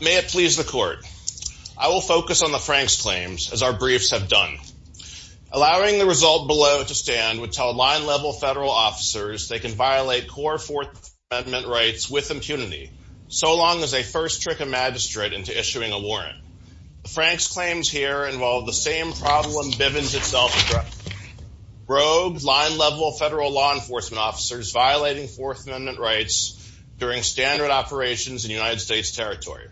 May it please the court. I will focus on the Frank's claims as our briefs have done. Allowing the result below to stand would tell line-level federal officers they can violate core Fourth Amendment rights with impunity so long as they first trick a magistrate into issuing a warrant. Frank's claims here involve the same problem Bivens itself broke line-level federal law enforcement officers violating Fourth Amendment rights during standard operations in United Territory.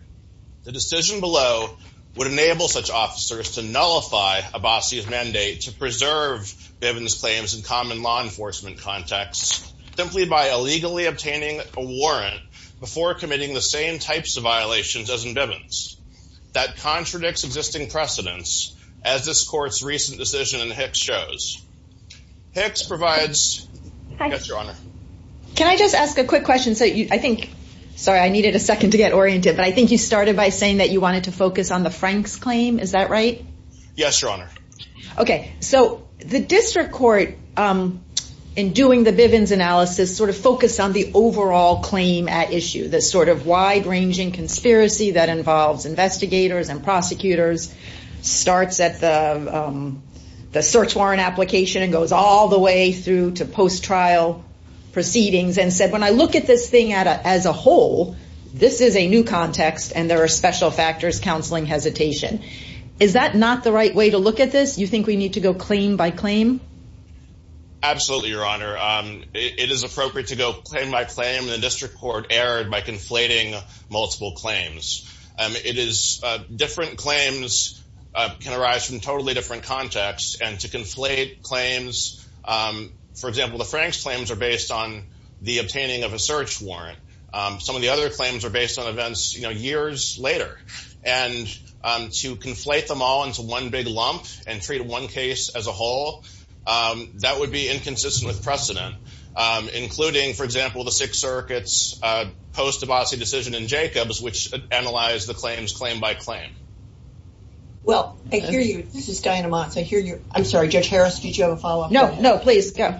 The decision below would enable such officers to nullify Abassi's mandate to preserve Bivens claims in common law enforcement contexts simply by illegally obtaining a warrant before committing the same types of violations as in Bivens. That contradicts existing precedents as this court's recent decision in Hicks shows. Hicks provides. Can I just ask a quick question I think sorry I needed a second to get oriented but I think you started by saying that you wanted to focus on the Frank's claim is that right? Yes your honor. Okay so the district court in doing the Bivens analysis sort of focused on the overall claim at issue this sort of wide-ranging conspiracy that involves investigators and prosecutors starts at the search warrant application and goes all the way through to post-trial proceedings and said when I look at this thing as a whole this is a new context and there are special factors counseling hesitation. Is that not the right way to look at this you think we need to go claim by claim? Absolutely your honor. It is appropriate to go claim by claim the district court erred by conflating multiple claims. It is different claims can arise from totally different contexts and to the obtaining of a search warrant some of the other claims are based on events you know years later and to conflate them all into one big lump and treat one case as a whole that would be inconsistent with precedent including for example the Sixth Circuit's post-Debasi decision in Jacobs which analyzed the claims claim by claim. Well I hear you this is Diana Motz I hear you I'm sorry Judge Harris did you have a follow-up? No no please go.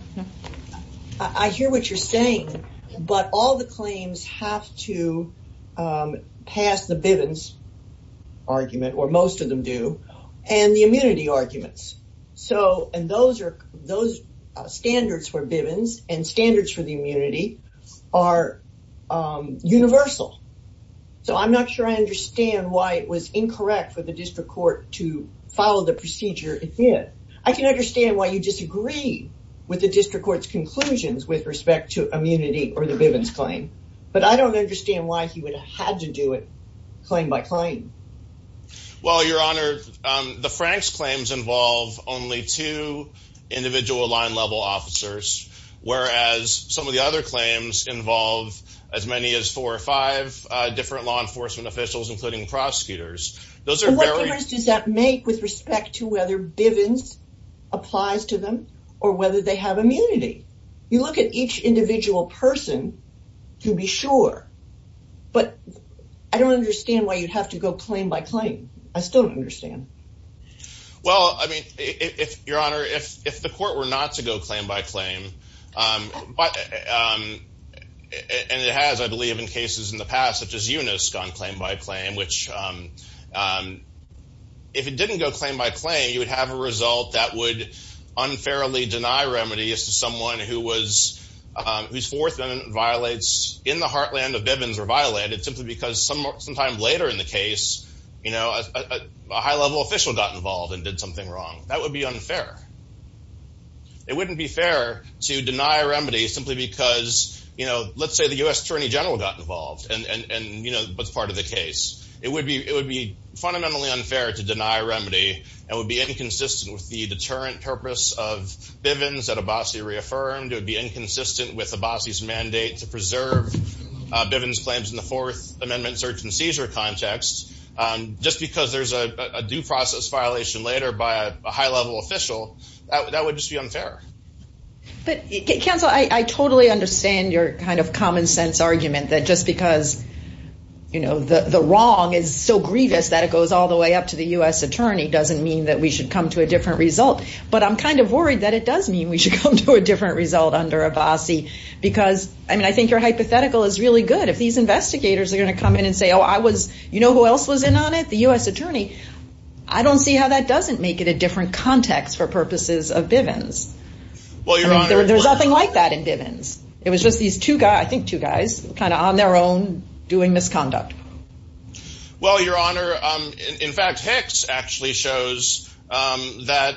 I hear what you're saying but all the claims have to pass the Bivens argument or most of them do and the immunity arguments so and those are those standards for Bivens and standards for the immunity are universal so I'm not sure I was incorrect for the district court to follow the procedure it did. I can understand why you disagree with the district court's conclusions with respect to immunity or the Bivens claim but I don't understand why he would have had to do it claim by claim. Well your honor the Frank's claims involve only two individual line level officers whereas some of the other claims involve as many as four or five different law enforcement officials including prosecutors. What difference does that make with respect to whether Bivens applies to them or whether they have immunity? You look at each individual person to be sure but I don't understand why you'd have to go claim by claim. I still don't understand. Well I mean if your honor if the court were not to go claim by claim but and it has I believe in cases in the past such as Eunice gone claim by claim which if it didn't go claim by claim you would have a result that would unfairly deny remedy as to someone who was who's fourth and violates in the heartland of Bivens or violated simply because some sometime later in the case you know a high-level official got involved and something wrong. That would be unfair. It wouldn't be fair to deny a remedy simply because you know let's say the US Attorney General got involved and and you know that's part of the case. It would be it would be fundamentally unfair to deny a remedy and would be inconsistent with the deterrent purpose of Bivens that Abbasi reaffirmed. It would be inconsistent with Abbasi's mandate to preserve Bivens claims in the fourth amendment search and seizure context just because there's a due process violation later by a high-level official that would just be unfair. But counsel I totally understand your kind of common sense argument that just because you know the the wrong is so grievous that it goes all the way up to the US Attorney doesn't mean that we should come to a different result but I'm kind of worried that it does mean we should come to a different result under Abbasi because I mean I think your hypothetical is really good if these investigators are going to come in and say oh I was you know who else was in on it the US Attorney. I don't see how that doesn't make it a different context for purposes of Bivens. Well your honor there's nothing like that in Bivens. It was just these two guys I think two guys kind of on their own doing misconduct. Well your honor in fact Hicks actually shows that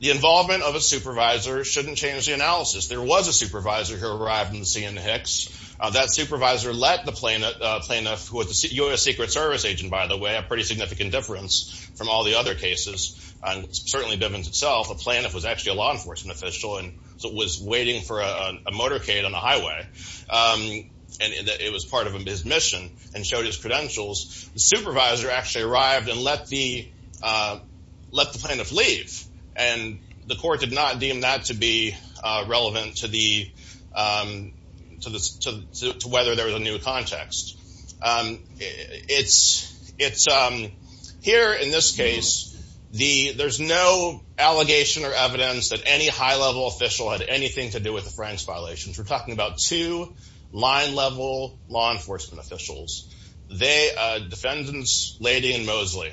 the involvement of a supervisor shouldn't change the analysis. There was a supervisor who arrived in the scene in Hicks. That supervisor let the plaintiff who was the US Secret Service agent by the way a pretty significant difference from all the other cases and certainly Bivens itself a plaintiff was actually a law enforcement official and so was waiting for a motorcade on the highway and it was part of his mission and showed his credentials. The supervisor actually arrived and let the plaintiff leave and the court did not deem that to be relevant to whether there was a new context. It's here in this case the there's no allegation or evidence that any high-level official had anything to do with the Franks violations. We're talking about two line-level law enforcement officials. They are defendants Leidy and Mosley.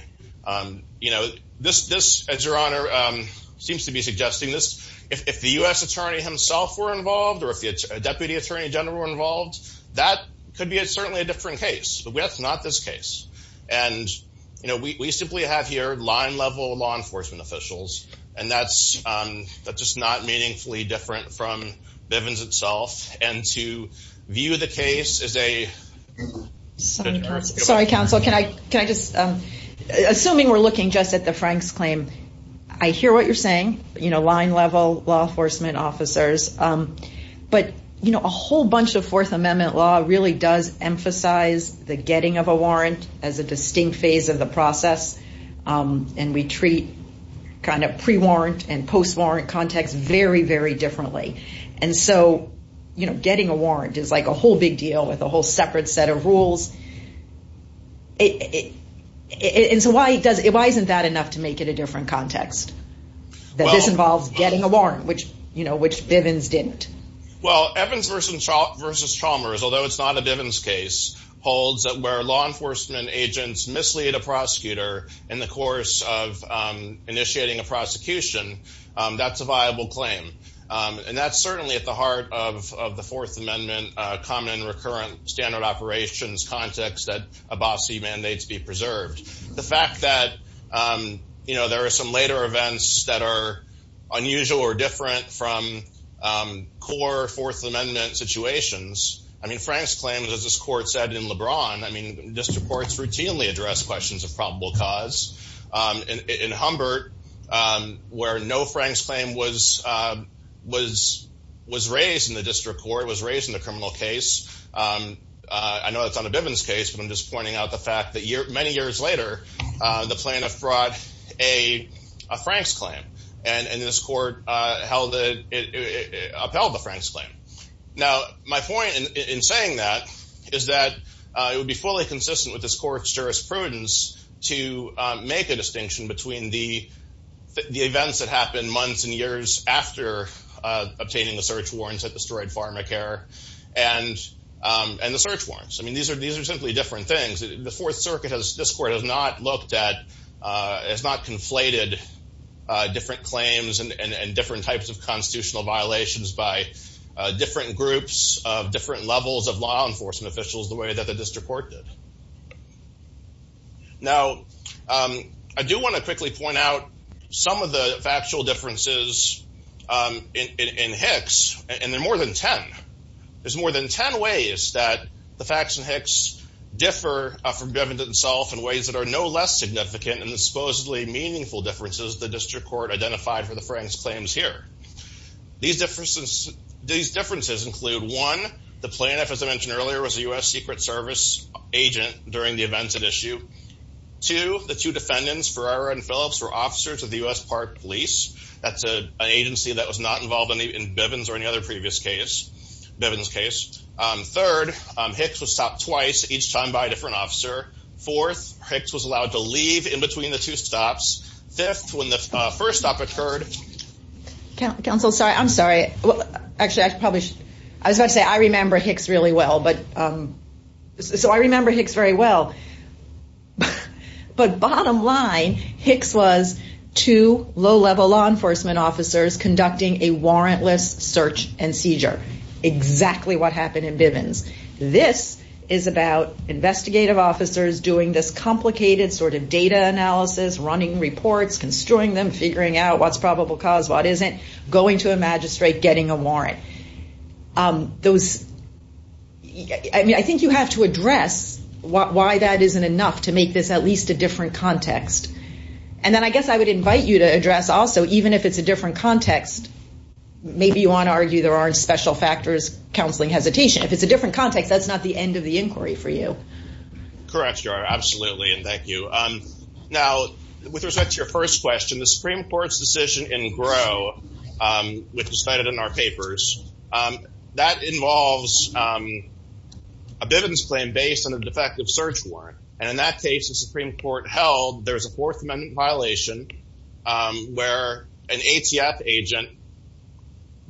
You know this as your honor seems to be suggesting this if the US attorney himself were involved or if the Deputy Attorney General were involved that could be a certainly a different case. But that's not this case and you know we simply have here line-level law enforcement officials and that's that's just not meaningfully different from Bivens itself and to view the case as a Sorry counsel can I can I just assuming we're looking just at the Franks claim I hear what you're saying you know line-level law enforcement officers but you know a whole bunch of Fourth Amendment law really does emphasize the getting of a warrant as a distinct phase of the process and we treat kind of pre-warrant and post-warrant context very very differently and so you know getting a warrant is like a whole big deal with a whole separate set of rules and so why does it why isn't that enough to make it a different context that this involves getting a warrant which you know which Bivens didn't. Well Evans versus Chalmers although it's not a Bivens case holds that where law enforcement agents mislead a prosecutor in the course of initiating a prosecution that's a viable claim and that's certainly at the heart of the Fourth Amendment common and recurrent standard operations context that Abbasi mandates be preserved. The fact that you know there are some later events that are unusual or different from core Fourth Amendment situations I mean Frank's claim as this court said in LeBron I mean district courts routinely address questions of probable cause in Humbert where no Frank's claim was raised in the district court was raised in the criminal case. I know it's on a Bivens case but I'm just pointing out the fact that many years later the plaintiff brought a Frank's claim and this court upheld the Frank's claim. Now my point in saying that is that it would be fully consistent with this court's jurisprudence to make a distinction between the events that happened months and years after obtaining the search warrants that destroyed PharmaCare and the search warrants. I mean these are these are simply different things. The Fourth Circuit has this court has not looked at it's not conflated different claims and different types of constitutional violations by different groups of different levels of law enforcement officials the way that the district court did. Now I do want to quickly point out some of the factual differences in Hicks and there are more than 10. There's more than 10 ways that the facts in Hicks differ from Bivens itself in ways that are no less significant and supposedly meaningful differences the district court identified for the Frank's claims here. These differences these differences include one the plaintiff as I mentioned earlier was a U.S. Secret Service agent during the events at issue. Two, the two defendants Ferreira and Phillips were officers of the U.S. Park Police. That's an agency that was not involved in the in Bivens or any other previous case Bivens case. Third, Hicks was stopped twice each time by a different officer. Fourth, Hicks was allowed to leave in between the two stops. Fifth, when the first stop occurred. Counsel sorry I'm sorry well actually I probably I was about to say I remember Hicks really well but so I remember Hicks very well but bottom line Hicks was two low-level law enforcement officers conducting a warrantless search and seizure. Exactly what happened in Bivens. This is about investigative officers doing this complicated sort of data analysis, running reports, construing them, figuring out what's probable cause what isn't, going to a magistrate, getting a warrant. Those I mean I think you have to address why that isn't enough to make this at least a different context and then I guess I would invite you to address also even if it's a different context maybe you want to argue there aren't special factors counseling hesitation. If it's a different context that's not the end of the inquiry for you. Correct you are absolutely and thank you. Now with respect to your first question the Supreme Court's decision in Grow which was cited in our papers that involves a Bivens claim based on a defective search warrant and in that case the Supreme Court held there's a fourth amendment violation where an ATF agent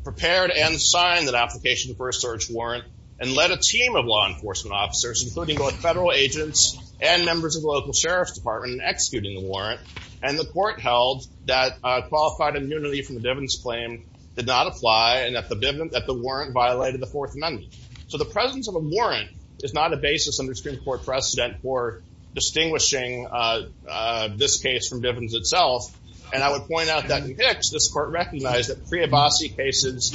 prepared and signed that application for a search warrant and led a team of law enforcement officers including both federal agents and members of the local sheriff's department executing the warrant and the court held that qualified immunity from the Bivens claim did not apply and that the warrant violated the fourth amendment. So the presence of a warrant is not a basis under Supreme Court precedent for distinguishing this case from Bivens itself and I would point out that in Hicks this court recognized that pre-Abbasi cases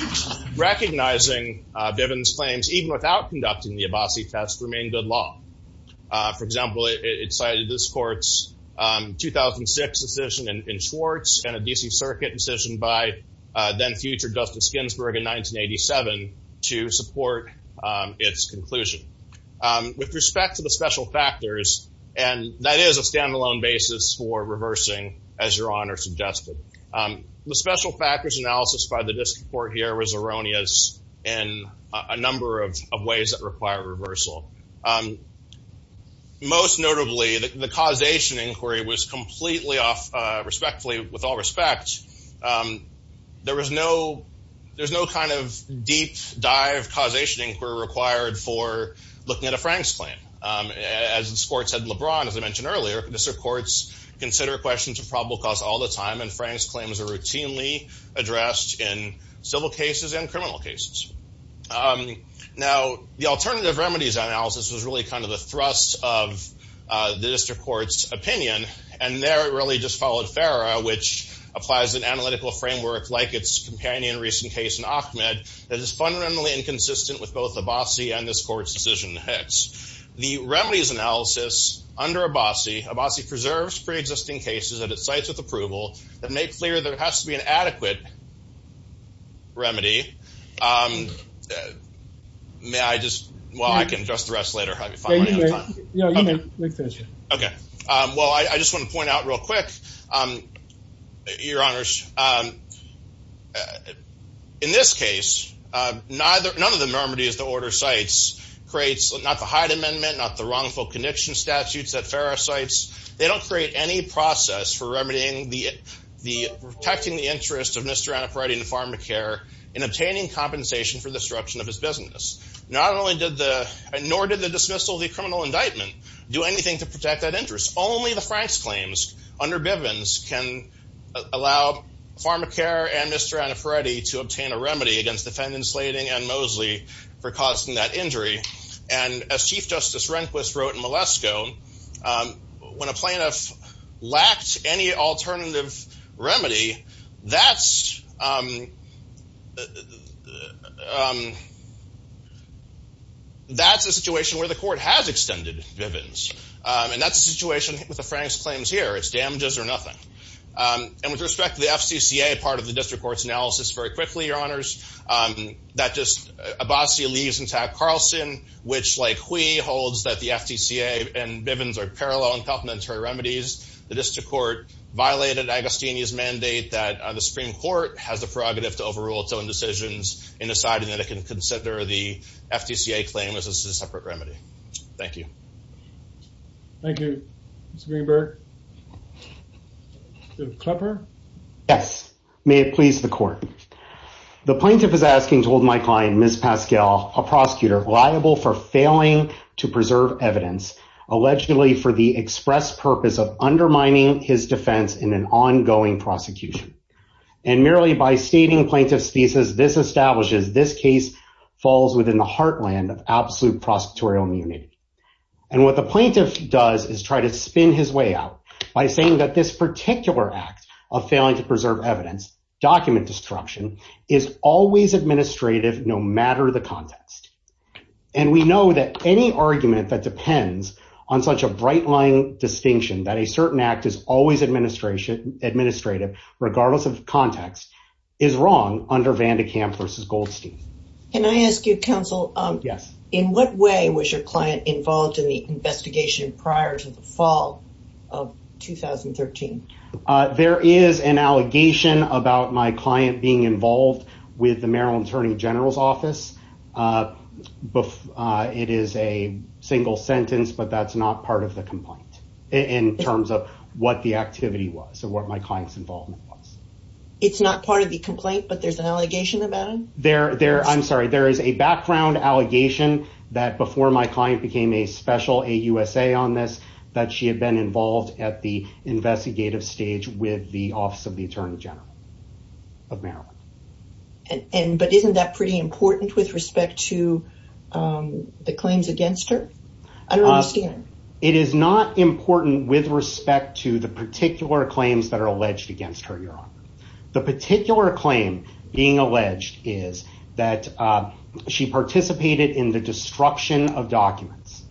recognizing Bivens claims even without conducting the Abbasi test remained good law. For example it cited this court's 2006 decision in Schwartz and a DC circuit decision by then future Justice Ginsburg in 1987 to support its conclusion. With respect to the special factors and that is a standalone basis for reversing as your honor suggested the special factors analysis by the district court here was erroneous in a number of ways that require reversal. Most notably the causation inquiry was completely off respectfully with all respect there was no there's no kind of deep dive causation inquiry required for looking at a Frank's claim. As the sports had LeBron as I mentioned earlier the courts consider questions of probable cause all the time and Frank's claims are routinely addressed in civil cases and criminal cases. Now the alternative remedies analysis was really kind of the thrust of the district court's opinion and there it really just followed Farrah which applies an analytical framework like its companion recent case in Ahmed that is fundamentally inconsistent with both Abbasi and this court's decision in Hicks. The remedies analysis under Abbasi, Abbasi preserves pre-existing cases at sites with approval that make clear there has to be an adequate remedy may I just well I can address the rest later. Okay well I just want to point out real quick your honors in this case neither none of the remedies the order sites creates not the Hyde amendment not the wrongful condition statutes that Farrah sites they don't create any process for remedying the the protecting the interest of Mr. Annapurati and Farmacare in obtaining compensation for the disruption of his business. Not only did the nor did the dismissal of the criminal indictment do anything to protect that interest only the Frank's claims under Bivens can allow Farmacare and Mr. Annapurati to obtain a remedy against defendant Slating and Mosley for causing that injury and as Chief Justice Rehnquist wrote in Malesko when a plaintiff lacked any alternative remedy that's that's a situation where the court has extended Bivens and that's a situation with the Frank's claims here it's damages or nothing and with respect to the FCC a part of the district courts analysis very your honors that just a bossy leaves intact Carlson which like we holds that the FTCA and Bivens are parallel and complementary remedies the district court violated Agostini's mandate that the Supreme Court has the prerogative to overrule its own decisions in deciding that it can consider the FTCA claim as a separate remedy. Thank you. Thank you Mr. Greenberg. Yes may it please the court the plaintiff is asking told my client Ms. Pascal a prosecutor liable for failing to preserve evidence allegedly for the express purpose of undermining his defense in an ongoing prosecution and merely by stating plaintiff's thesis this establishes this case falls within the heartland of absolute prosecutorial immunity and what the plaintiff does is try to spin his way out by saying that this particular act of failing to preserve evidence document destruction is always administrative no matter the context and we know that any argument that depends on such a bright line distinction that a certain act is always administration administrative regardless of context is wrong under Van de Kamp versus Goldstein. Can I ask you counsel yes in what way was your client involved in the investigation prior to the fall of 2013? There is an allegation about my client being involved with the Maryland Attorney General's office but it is a single sentence but that's not part of the complaint in terms of what the activity was and what my clients involvement was. It's not part of the complaint but there's an background allegation that before my client became a special a USA on this that she had been involved at the investigative stage with the office of the Attorney General of Maryland and but isn't that pretty important with respect to the claims against her? I don't understand. It is not important with respect to the particular claims that are alleged against her your honor. The particular claim being alleged is that she participated in the destruction of documents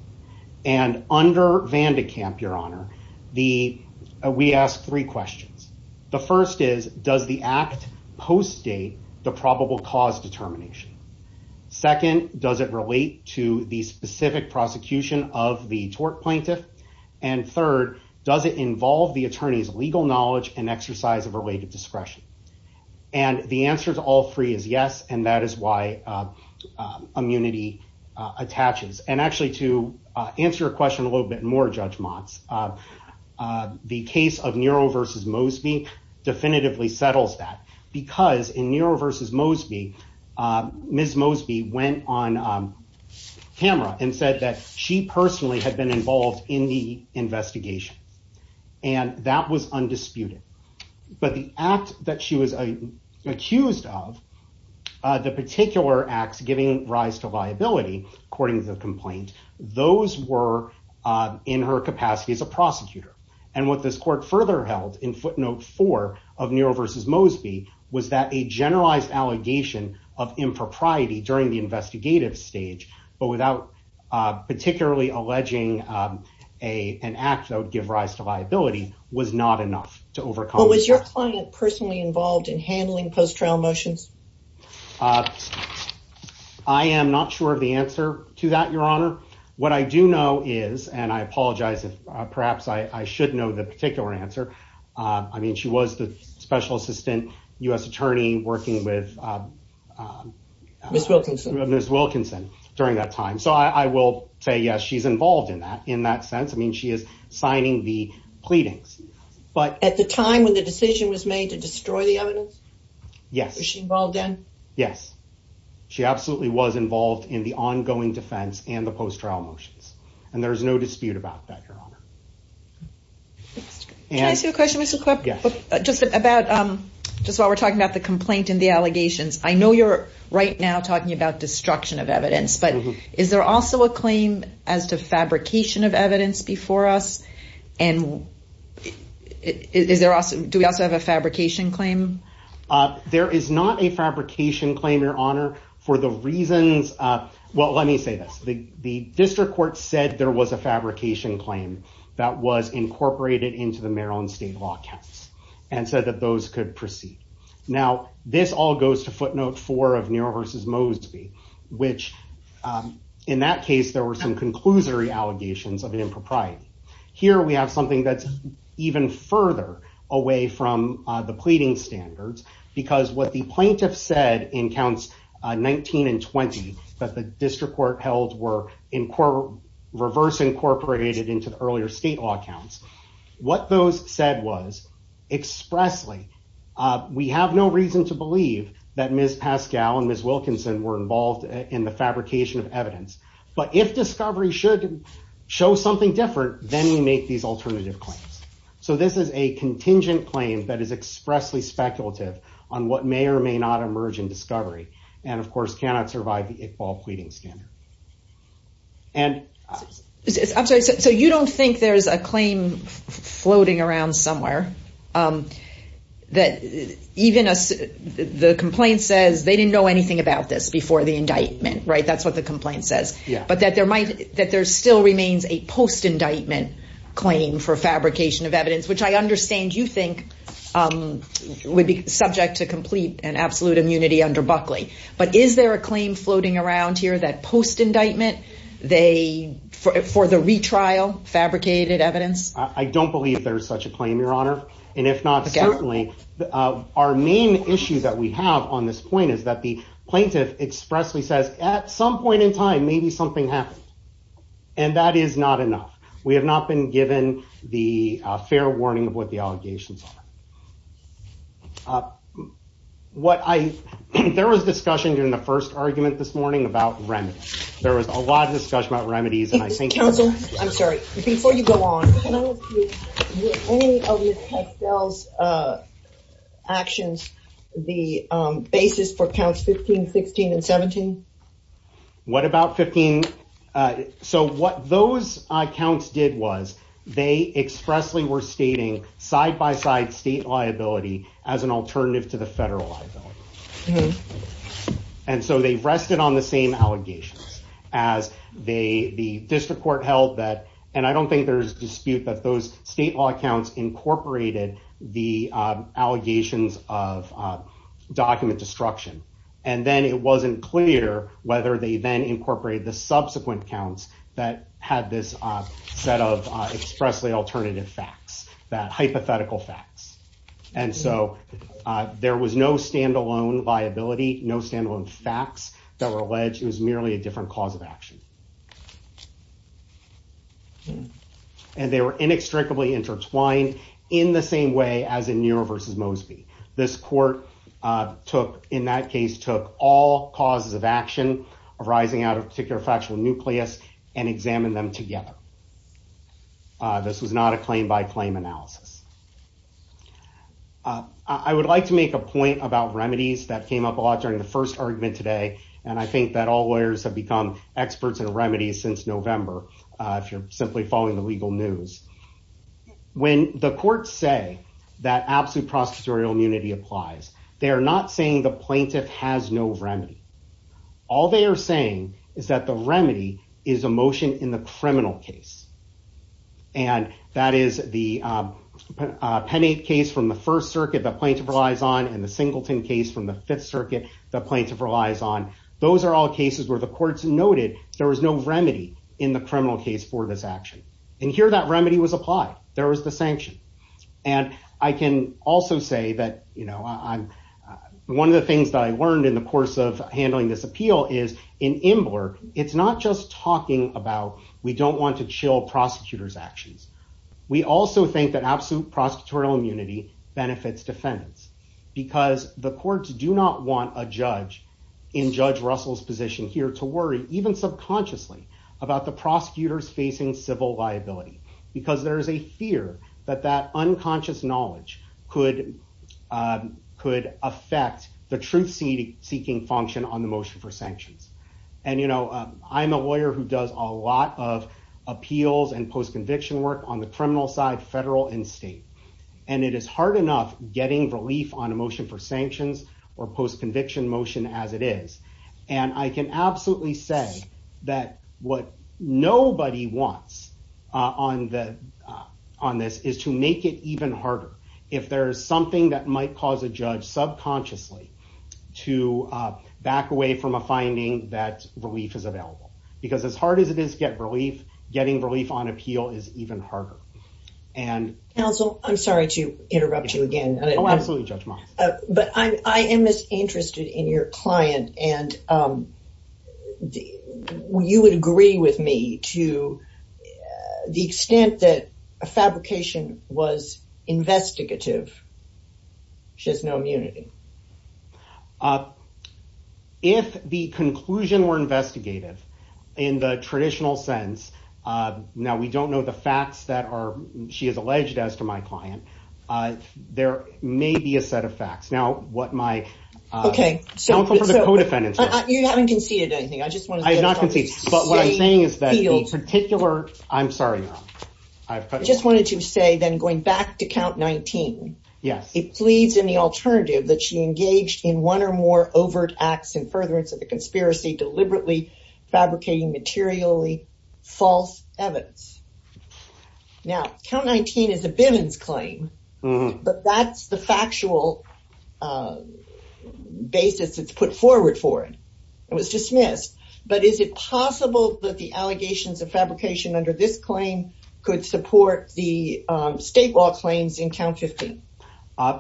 and under Van de Kamp your honor the we asked three questions. The first is does the act post date the probable cause determination? Second does it relate to the specific prosecution of the tort plaintiff? And the answer to all three is yes and that is why immunity attaches and actually to answer your question a little bit more Judge Motz the case of Nero versus Mosby definitively settles that because in Nero versus Mosby Ms. Mosby went on camera and said that she personally had been involved in the investigation and that was undisputed but the act that she was accused of the particular acts giving rise to liability according to the complaint those were in her capacity as a prosecutor and what this court further held in footnote four of Nero versus Mosby was that a generalized allegation of impropriety during the investigative stage but without particularly alleging an act that would give rise to liability was not enough to overcome. Was your client personally involved in handling post trial motions? I am not sure of the answer to that your honor what I do know is and I apologize if perhaps I should know the particular answer I mean she was the special assistant U.S. attorney working with Ms. Wilkinson during that time so I will say yes she's involved in that in that sense I mean she is signing the pleadings. But at the time when the decision was made to destroy the evidence? Yes. Was she involved then? Yes she absolutely was involved in the ongoing defense and the post trial motions and there's no dispute about that your honor. Can I ask you a question Mr. Krupp? Just about just while we're talking about the complaint and the allegations I know you're right now talking about destruction of evidence but is there also a claim as to fabrication of evidence before us and do we also have a fabrication claim? There is not a fabrication claim your honor for the reasons well let me say this the district court said there was a fabrication claim that was and said that those could proceed. Now this all goes to footnote four of Neera versus Mosby which in that case there were some conclusory allegations of an impropriety. Here we have something that's even further away from the pleading standards because what the plaintiff said in counts 19 and 20 that the district court held were in reverse incorporated into the earlier state law counts. What those said was expressly we have no reason to believe that Miss Pascal and Miss Wilkinson were involved in the fabrication of evidence but if discovery should show something different then we make these alternative claims. So this is a contingent claim that is expressly speculative on what may or may not emerge in discovery and of course cannot survive the claim floating around somewhere that even as the complaint says they didn't know anything about this before the indictment right that's what the complaint says yeah but that there might that there still remains a post indictment claim for fabrication of evidence which I understand you think would be subject to complete and absolute immunity under Buckley but is there a claim floating around here that post indictment they for the retrial fabricated evidence I don't believe there's such a claim your honor and if not certainly our main issue that we have on this point is that the plaintiff expressly says at some point in time maybe something happened and that is not enough we have not been given the fair warning of what the allegations are. There was discussion during the first argument this morning about remedies there was a lot of discussion about remedies and I think counsel I'm sorry before you go on actions the basis for counts 15 16 and 17 what about 15 so what those accounts did was they expressly were stating side by side state liability as an alternative to the federal liability and so they've rested on the same allegations as they the district court held that and I don't think there's dispute that those state law accounts incorporated the allegations of document destruction and then it wasn't clear whether they then incorporated the subsequent counts that had this set of expressly alternative facts that hypothetical facts and so there was no stand-alone liability no stand-alone facts that were alleged it was merely a different cause of action and they were inextricably intertwined in the same way as in your versus Mosby this court took in that case took all causes of action arising out of particular factual nucleus and examine them together this was not a claim-by-claim analysis I would like to make a point about remedies that came up a lot during the first argument today and I think that all lawyers have become experts in remedies since November if you're simply following the legal news when the courts say that absolute prosecutorial immunity applies they are not saying the plaintiff has no remedy all they are saying is that the remedy is a motion in the criminal case and that is the pennate case from the First Circuit that plaintiff relies on and the Singleton case from the Fifth Circuit the plaintiff relies on those are all cases where the courts noted there was no remedy in the criminal case for this action and here that one of the things that I learned in the course of handling this appeal is in Imbler it's not just talking about we don't want to chill prosecutors actions we also think that absolute prosecutorial immunity benefits defendants because the courts do not want a judge in Judge Russell's position here to worry even subconsciously about the prosecutors facing civil liability because there is a fear that that unconscious knowledge could could affect the truth seeking function on the motion for sanctions and you know I'm a lawyer who does a lot of appeals and post conviction work on the criminal side federal and state and it is hard enough getting relief on a motion for sanctions or post conviction motion as it is and I can absolutely say that what nobody wants on that on this is to make it even harder if there is something that might cause a judge subconsciously to back away from a finding that relief is available because as hard as it is get relief getting relief on appeal is even harder and counsel I'm sorry to interrupt you again absolutely judge but I am interested in your client and you would agree with me to the extent that a fabrication was investigative she has no immunity if the conclusion were investigative in the traditional sense now we don't know the facts that are she is alleged as to my client there may be a set of facts now what my okay so for the co-defendants you haven't conceded anything I just want to not concede but what I'm saying is that you'll particular I'm sorry I've just wanted to say then going back to count 19 yes it pleads in the alternative that she engaged in one or more overt acts in furtherance of the conspiracy deliberately fabricating materially false evidence now count 19 is a Bivens claim but that's the factual basis it's put forward for it it was dismissed but is it possible that the allegations of fabrication under this claim could support the state law claims in count 15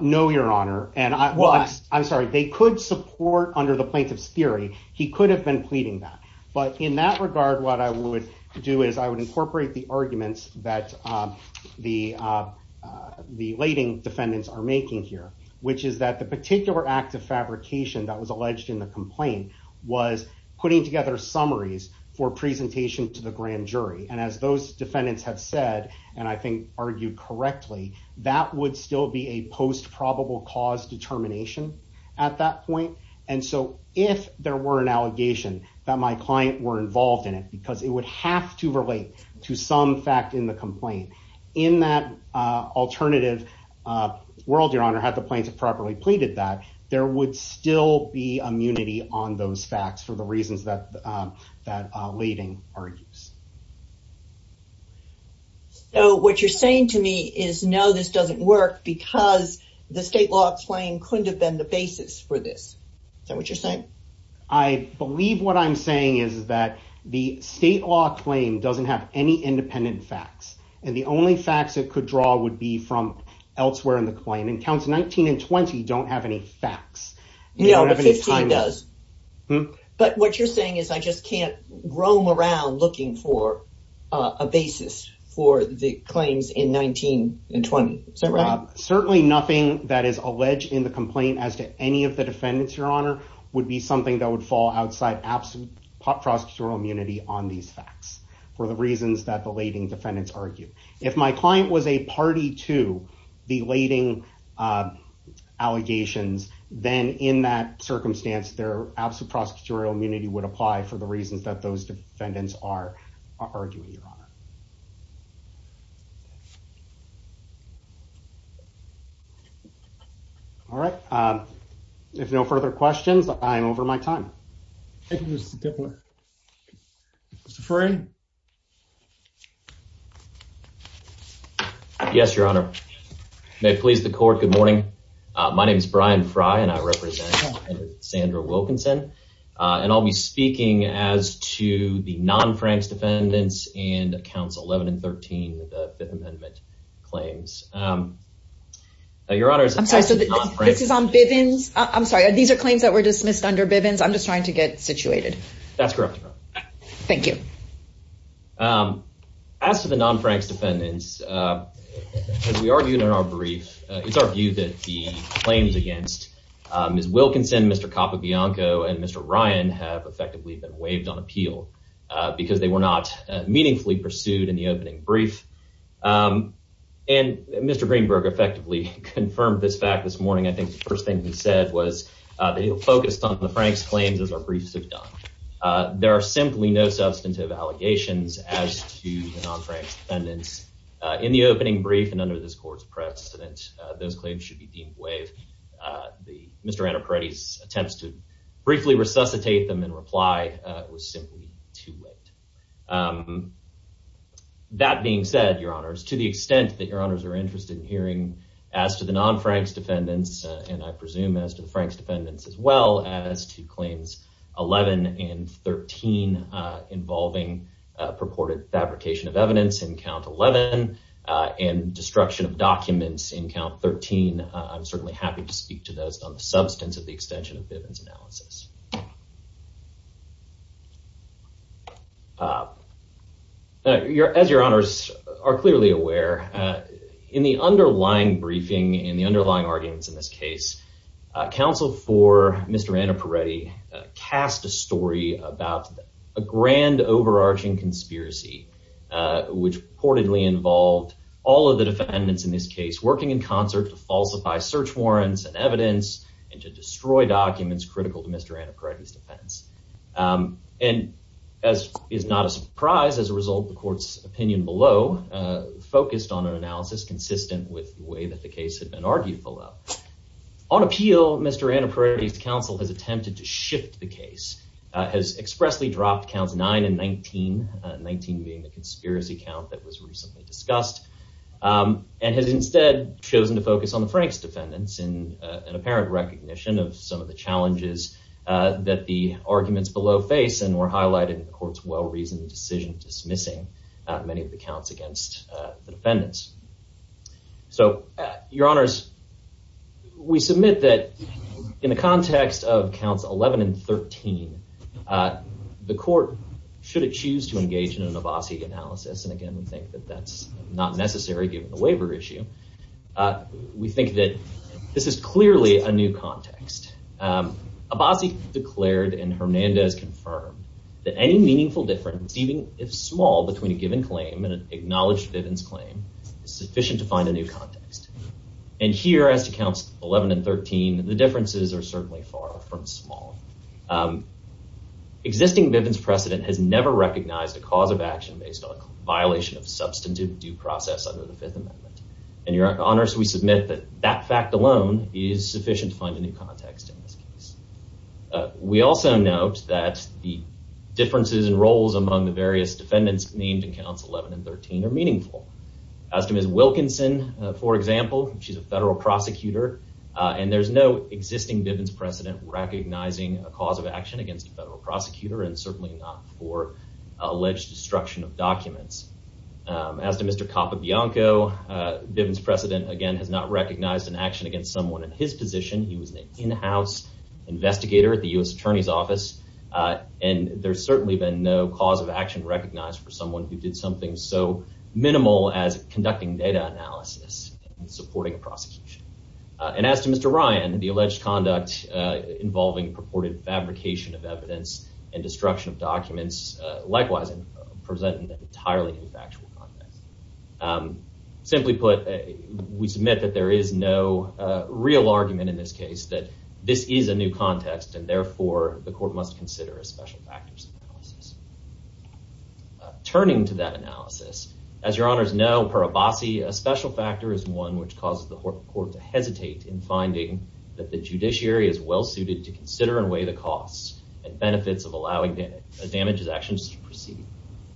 no your honor and I was I'm sorry they could support under the plaintiff's theory he could have been pleading that but in that regard what I would do is I would incorporate the arguments that the the lading defendants are making here which is that the particular act of fabrication that was alleged in the complaint was putting together summaries for presentation to the grand jury and as those defendants have said and I think argued correctly that would still be a post probable cause determination at that point and so if there were an allegation that my client were involved in it because it would have to relate to some fact in the complaint in that alternative world your honor had the plaintiff properly pleaded that there would still be immunity on those facts for the reasons that that lading argues so what you're saying to me is no this doesn't work because the state law explain couldn't have been the basis for this so what you're saying I believe what I'm saying is that the state law claim doesn't have any independent facts and the only facts that could draw would be from elsewhere in the claim and counts 19 and 20 don't have any facts you know the time does but what you're saying is I just can't roam around looking for a basis for the claims in 19 and 20 so Rob certainly nothing that is alleged in the would be something that would fall outside absolute prosecutorial immunity on these facts for the reasons that the lading defendants argue if my client was a party to the lading allegations then in that circumstance their absolute prosecutorial immunity would apply for the yes your honor may please the court good morning my name is Brian Fry and I represent Sandra Wilkinson and I'll be speaking as to the non Frank's defendants and counts 11 and 13 the under Bivens I'm just trying to get situated that's correct thank you as to the non Frank's defendants as we argued in our brief it's our view that the claims against is Wilkinson mr. Coppola Bianco and mr. Ryan have effectively been waived on appeal because they were not meaningfully pursued in the opening brief and mr. Greenberg effectively confirmed this fact this morning I think the first thing he said was they focused on the Frank's claims as our briefs have done there are simply no substantive allegations as to the non Frank's defendants in the opening brief and under this court's precedent those claims should be deemed waive the mr. Anna Paredes attempts to briefly resuscitate them in reply was simply too late that being said your honors are interested in hearing as to the non Frank's defendants and I presume as to the Frank's defendants as well as to claims 11 and 13 involving purported fabrication of evidence in count 11 and destruction of documents in count 13 I'm certainly happy to speak to those on the substance of the in the underlying briefing in the underlying arguments in this case counsel for mr. Anna Paredes cast a story about a grand overarching conspiracy which reportedly involved all of the defendants in this case working in concert to falsify search warrants and evidence and to destroy documents critical to mr. Anna Paredes defense and as is not a surprise as a result the court's opinion below focused on an analysis consistent with the way that the case had been argued below on appeal mr. Anna Paredes counsel has attempted to shift the case has expressly dropped counts 9 and 19 19 being the conspiracy count that was recently discussed and has instead chosen to focus on the Frank's defendants in an apparent recognition of some of the challenges that the arguments below face and were highlighted in the courts well-reasoned decision dismissing many of the counts against the defendants so your honors we submit that in the context of counts 11 and 13 the court should it choose to engage in an Avasi analysis and again we think that that's not necessary given the waiver issue we think that this is clearly a new context Abazi declared and Hernandez confirmed that any meaningful difference even if small between a given claim and an acknowledged Vivian's claim is sufficient to find a new context and here as to counts 11 and 13 the differences are certainly far from small existing Vivian's precedent has never recognized a cause of action based on a violation of substantive due process under the Fifth Amendment and your honors we submit that that fact alone is sufficient to find a new context in this case we also note that the differences and roles among the various defendants named in counts 11 and 13 are meaningful as to miss Wilkinson for example she's a federal prosecutor and there's no existing Vivian's precedent recognizing a cause of action against a federal prosecutor and certainly for alleged destruction of documents as to mr. Coppa Bianco Vivian's precedent again has not recognized an action against someone in his position he was an in-house investigator at the US Attorney's Office and there's certainly been no cause of action recognized for someone who did something so minimal as conducting data analysis and supporting a prosecution and as to mr. Ryan the alleged conduct involving purported fabrication of evidence and destruction of documents likewise in presenting an entirely new factual context simply put a we submit that there is no real argument in this case that this is a new context and therefore the court must consider a special factors analysis turning to that analysis as your honors know per a bossy a special factor is one which causes the court to hesitate in finding that the judiciary is well suited to consider and weigh the costs and benefits of allowing damage as actions to proceed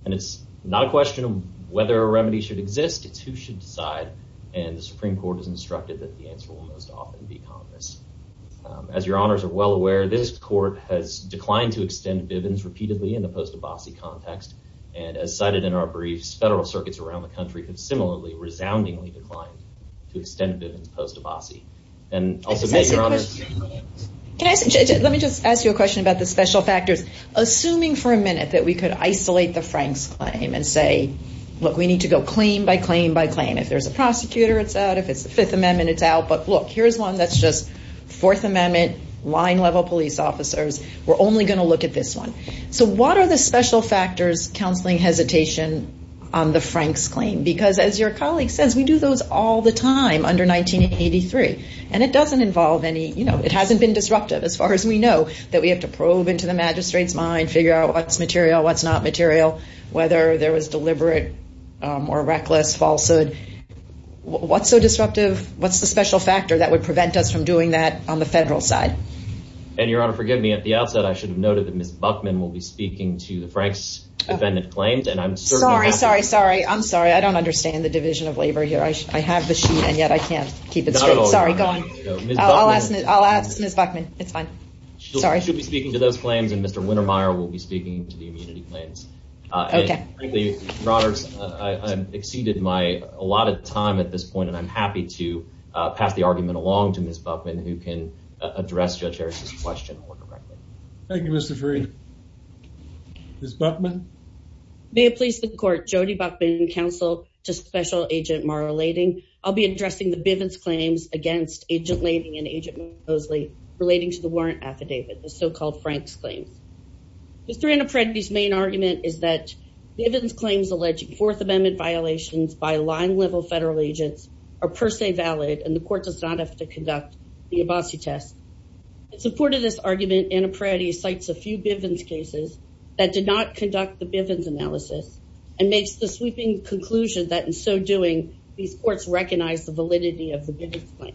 and it's not a question of whether a remedy should exist it's who should decide and the Supreme Court is instructed that the answer will most often be Congress as your honors are well aware this court has declined to extend Vivian's repeatedly in the post a bossy context and as cited in our let me just ask you a question about the special factors assuming for a minute that we could isolate the Frank's claim and say look we need to go claim by claim by claim if there's a prosecutor it's out if it's the Fifth Amendment it's out but look here's one that's just Fourth Amendment line level police officers we're only going to look at this one so what are the special factors counseling hesitation on the Frank's claim because as your colleague says we do those all the time under 1983 and it doesn't involve any you know it hasn't been disruptive as far as we know that we have to probe into the magistrates mind figure out what's material what's not material whether there was deliberate or reckless falsehood what's so disruptive what's the special factor that would prevent us from doing that on the federal side and your honor forgive me at the outset I should have noted that miss Buckman will be speaking to the Frank's defendant claims and I'm sorry sorry sorry I'm sorry I don't understand the division of labor here I should I have the sheet and yet I can't keep it sorry going I'll ask miss Buckman it's fine sorry she'll be speaking to those claims and mr. Wintermeyer will be speaking to the immunity claims I exceeded my a lot of time at this point and I'm happy to pass the argument along to miss Buckman who can address judge question thank you mr. free miss Buckman may it please the court Jody Buckman counsel to special agent Mara lading I'll be addressing the Bivens claims against agent lading and agent Mosley relating to the warrant affidavit the so-called Frank's claims mr. an apprentice main argument is that the evidence claims alleged Fourth Amendment violations by line level federal agents are per se valid and the court does not have to conduct the Abbasi test it supported this argument in a priority cites a few Bivens cases that did not conduct the Bivens analysis and makes the sweeping conclusion that in so doing these courts recognize the validity of the business plan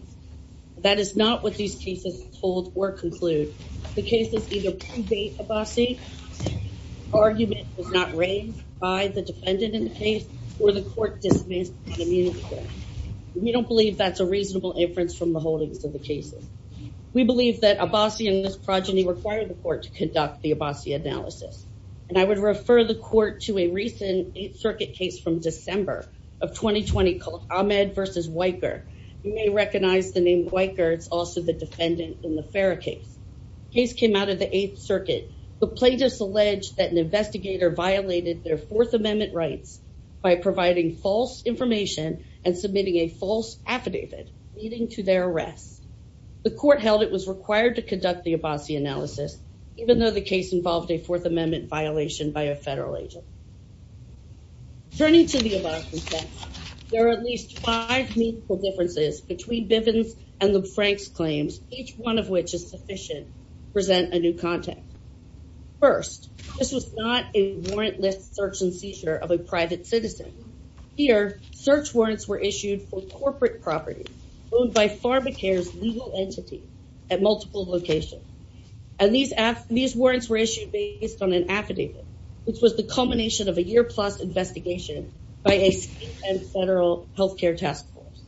that is not what these cases hold or conclude the case is either a bossy argument it's not raised by the defendant in the case or the court dismissed we don't believe that's a reasonable inference from the holdings of the cases we believe that a bossy and this progeny required the court to conduct the Abbasi analysis and I would refer the court to a recent 8th Circuit case from December of 2020 called Ahmed versus Weicker you may recognize the name Weicker it's also the defendant in the Farah case case came out of the 8th Circuit the plaintiffs allege that an investigator violated their Fourth Amendment rights by providing false information and submitting a false affidavit leading to their arrest the court held it was required to conduct the Abbasi analysis even though the case involved a Fourth Amendment violation by a federal agent turning to the above there are at least five meaningful differences between Bivens and the was not a warrantless search and seizure of a private citizen here search warrants were issued for corporate property owned by PharmaCare's legal entity at multiple locations and these after these warrants were issued based on an affidavit which was the culmination of a year plus investigation by a federal health care task force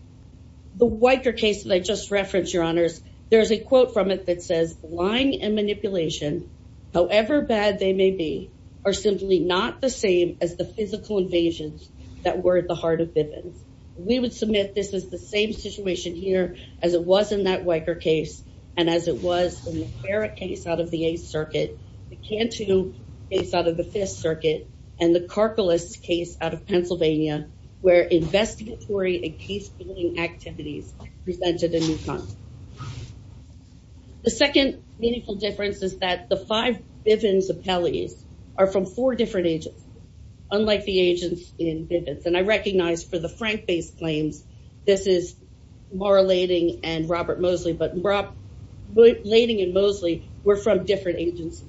the Weicker case that I just referenced your honors there's a quote from it that says lying and manipulation however bad they may be are simply not the same as the physical invasions that were at the heart of Bivens we would submit this is the same situation here as it was in that Weicker case and as it was in the Farah case out of the 8th Circuit the Cantu case out of the 5th Circuit and the Karkalis case out of Pennsylvania where investigatory and case-solving activities presented a new concept. The second meaningful difference is that the five Bivens appellees are from four different agents unlike the agents in Bivens and I recognize for the Frank based claims this is Maura Lading and Robert Moseley but Maura Lading and Moseley were from different agencies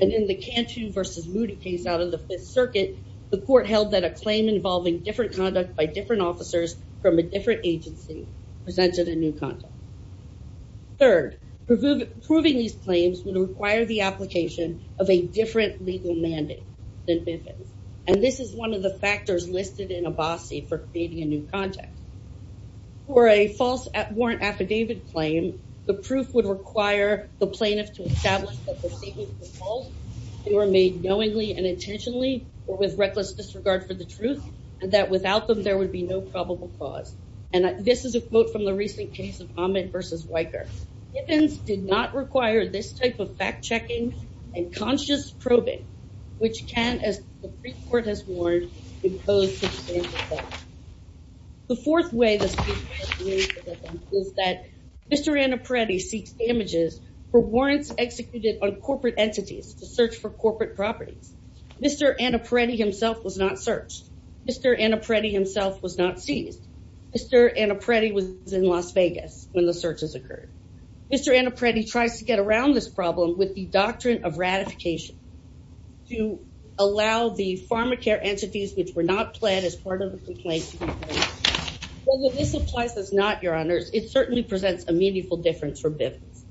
and in the Cantu versus Moody case out of the 5th Circuit the court held that a claim involving different conduct by different officers from a different agency presented a new content. Third, proving these claims would require the application of a different legal mandate than Bivens and this is one of the factors listed in Abbasi for creating a new context. For a false warrant affidavit claim the proof would require the plaintiff to establish that the statements were false, they were made knowingly and intentionally or with reckless disregard for the truth and that without them there would be no probable cause and this is a quote from the recent case of Ahmed versus Weicker. Bivens did not require this type of fact-checking and conscious probing which can, as the pre-court has warned, impose substantial consequences. The fourth way this is that Mr. Annapredi seeks damages for warrants executed on corporate entities to search for corporate properties. Mr. Annapredi himself was not searched. Mr. Annapredi himself was not seized. Mr. Annapredi was in Las Vegas when the searches occurred. Mr. Annapredi tries to get around this problem with the doctrine of ratification to allow the pharma care entities which were not planned as part of the complaint. Although this applies as not, your honors, it certainly presents a meaningful difference for Bivens.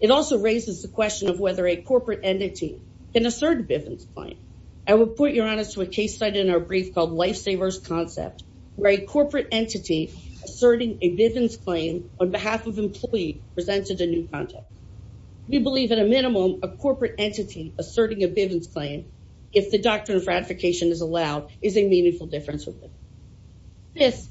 It also raises the question of whether a corporate entity can assert a Bivens claim. I will put, your honors, to a case study in our brief called Lifesaver's Concept where a corporate entity asserting a Bivens claim on behalf of employee presented a new context. We believe, at a minimum, a corporate entity asserting a Bivens claim, if the doctrine of ratification is allowed, is a meaningful difference with Bivens. Fifth,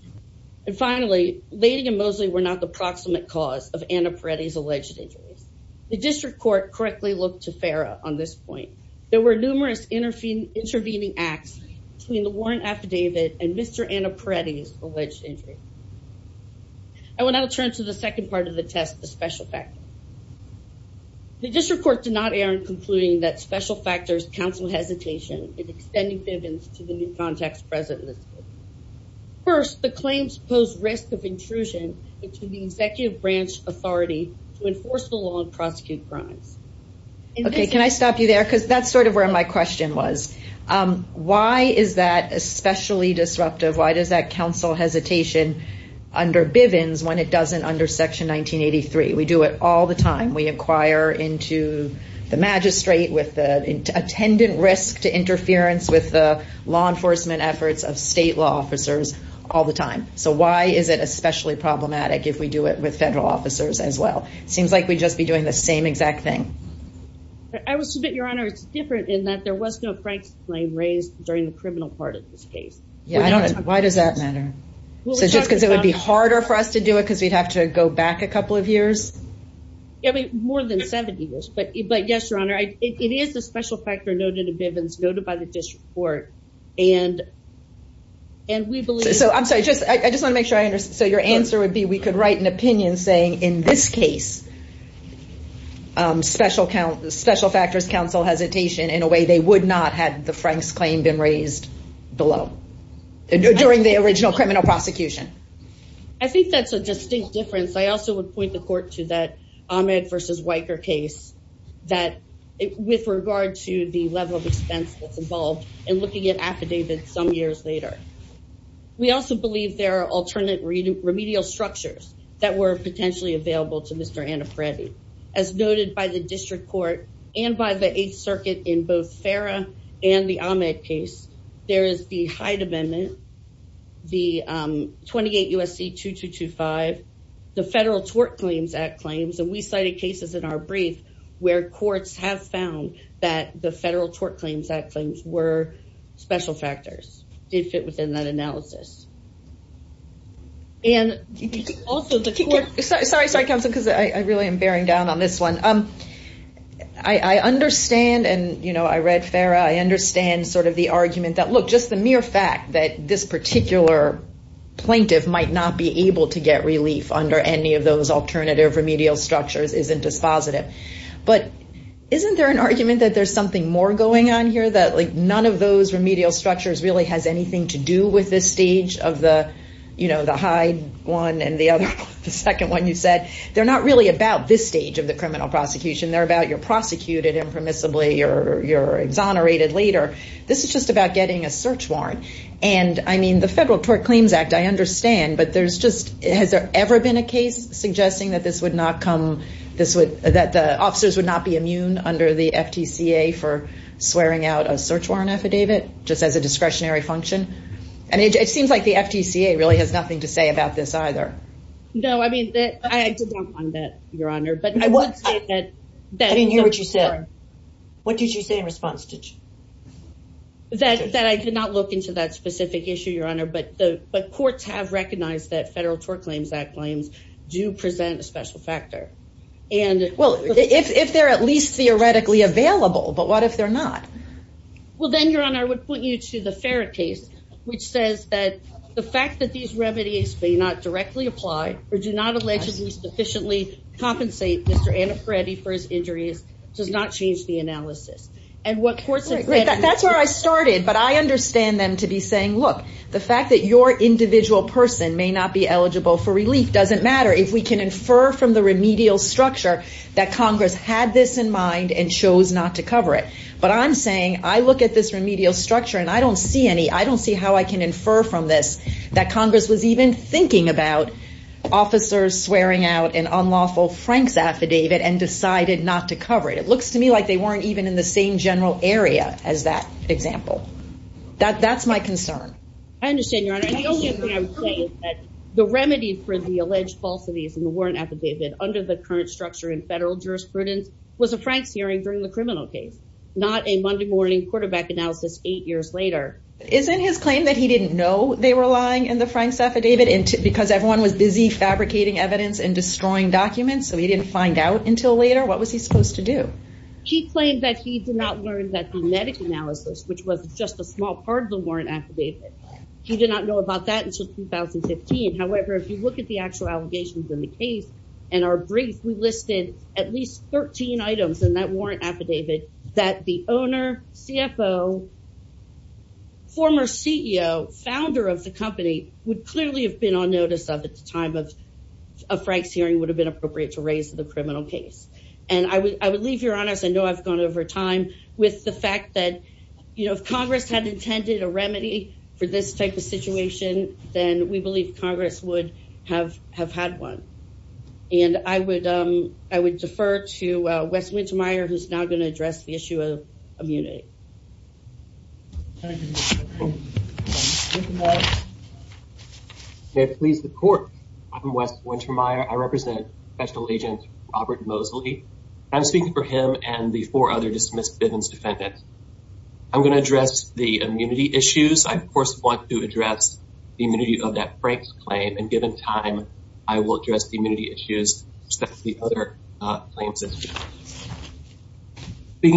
and finally, Lading and Mosley were not the proximate cause of Annapredi's alleged injuries. The district court correctly looked to FERA on this point. There were numerous intervening acts between the warrant affidavit and Mr. Annapredi's alleged injury. I will now turn to the second part of the test, the special factor. The district court did not err in concluding that special factors counsel hesitation in extending Bivens to the new context present in this case. First, the claims pose risk of intrusion into the executive branch authority to enforce the law and prosecute crimes. Okay, can I stop you there? Because that's sort of where my question was. Why is that especially disruptive? Why does that counsel hesitation under Bivens when it doesn't under Section 1983? We do it all the time. We inquire into the magistrate with the attendant risk to interference with the law enforcement efforts of state law officers all the time. So why is it especially problematic if we do it with federal officers as well? It seems like we'd just be doing the same exact thing. I will submit, Your Honor, it's different in that there was no Frank's claim raised during the criminal part of this case. Yeah, I don't know. Why does that matter? Just because it would be harder for us to do it because we'd have to go back a couple of years? Yeah, I mean, more than 70 years. But yes, Your Honor, it is a special factor noted in Bivens noted by the district court. And we believe... So I'm sorry, I just want to make sure I understand. So your answer would be we could write an opinion saying in this case, special factors counsel hesitation in a way they would not had the Frank's claim been raised below during the original criminal prosecution. I think that's a distinct difference. I also would point the court to that Ahmed versus Weicker case that with regard to the level of expense that's involved and looking at affidavits some years later. We also believe there are remedial structures that were potentially available to Mr. Annapredi. As noted by the district court and by the Eighth Circuit in both Farah and the Ahmed case, there is the Hyde Amendment, the 28 USC 2225, the Federal Tort Claims Act claims. And we cited cases in our brief where courts have found that the Federal Tort Claims Act claims were special factors did fit within that analysis. And also the court... Sorry, sorry, counselor, because I really am bearing down on this one. I understand and I read Farah, I understand sort of the argument that, look, just the mere fact that this particular plaintiff might not be able to get relief under any of those alternative remedial structures isn't dispositive. But isn't there an argument that there's something more going on here that like none of those remedial structures really has anything to do with this stage of the Hyde one and the other, the second one you said. They're not really about this stage of the criminal prosecution. They're about you're prosecuted impermissibly or you're exonerated later. This is just about getting a search warrant. And I mean, the Federal Tort Claims Act, I understand, but there's just, has there ever been a case suggesting that this would not come, that the officers would not be immune under the FTCA for swearing out a search warrant affidavit just as a discretionary function? And it seems like the FTCA really has nothing to say about this either. No, I mean, I did not find that, Your Honor, but I would say that... I didn't hear what you said. What did you say in response? That I did not look into that specific issue, Your Honor, but courts have recognized that and... Well, if they're at least theoretically available, but what if they're not? Well, then, Your Honor, I would point you to the Farrer case, which says that the fact that these remedies may not directly apply or do not allegedly sufficiently compensate Mr. Annaparetti for his injuries does not change the analysis. And what courts... That's where I started, but I understand them to be saying, look, the fact that your individual person may not be eligible for Congress had this in mind and chose not to cover it. But I'm saying I look at this remedial structure and I don't see any... I don't see how I can infer from this that Congress was even thinking about officers swearing out an unlawful Frank's affidavit and decided not to cover it. It looks to me like they weren't even in the same general area as that example. That's my concern. I understand, Your Honor. The only thing I would say is that the remedy for the alleged falsities in the warrant affidavit under the current structure in federal jurisprudence was a Frank's hearing during the criminal case, not a Monday morning quarterback analysis eight years later. Isn't his claim that he didn't know they were lying in the Frank's affidavit because everyone was busy fabricating evidence and destroying documents, so he didn't find out until later? What was he supposed to do? He claimed that he did not learn that the medic analysis, which was just a small part of the warrant affidavit, he did not know about that until 2015. However, if you look at the actual allegations in the case and our brief, we listed at least 13 items in that warrant affidavit that the owner, CFO, former CEO, founder of the company would clearly have been on notice of at the time of a Frank's hearing would have been appropriate to raise the criminal case. And I would leave, Your Honors, I know I've gone over time with the we believe Congress would have had one. And I would defer to Wes Wintermeyer, who's now going to address the issue of immunity. May it please the court. I'm Wes Wintermeyer. I represent Special Agent Robert Mosley. I'm speaking for him and the four other dismissed business defendants. I'm going to address the of that Frank's claim. And given time, I will address the immunity issues. Speaking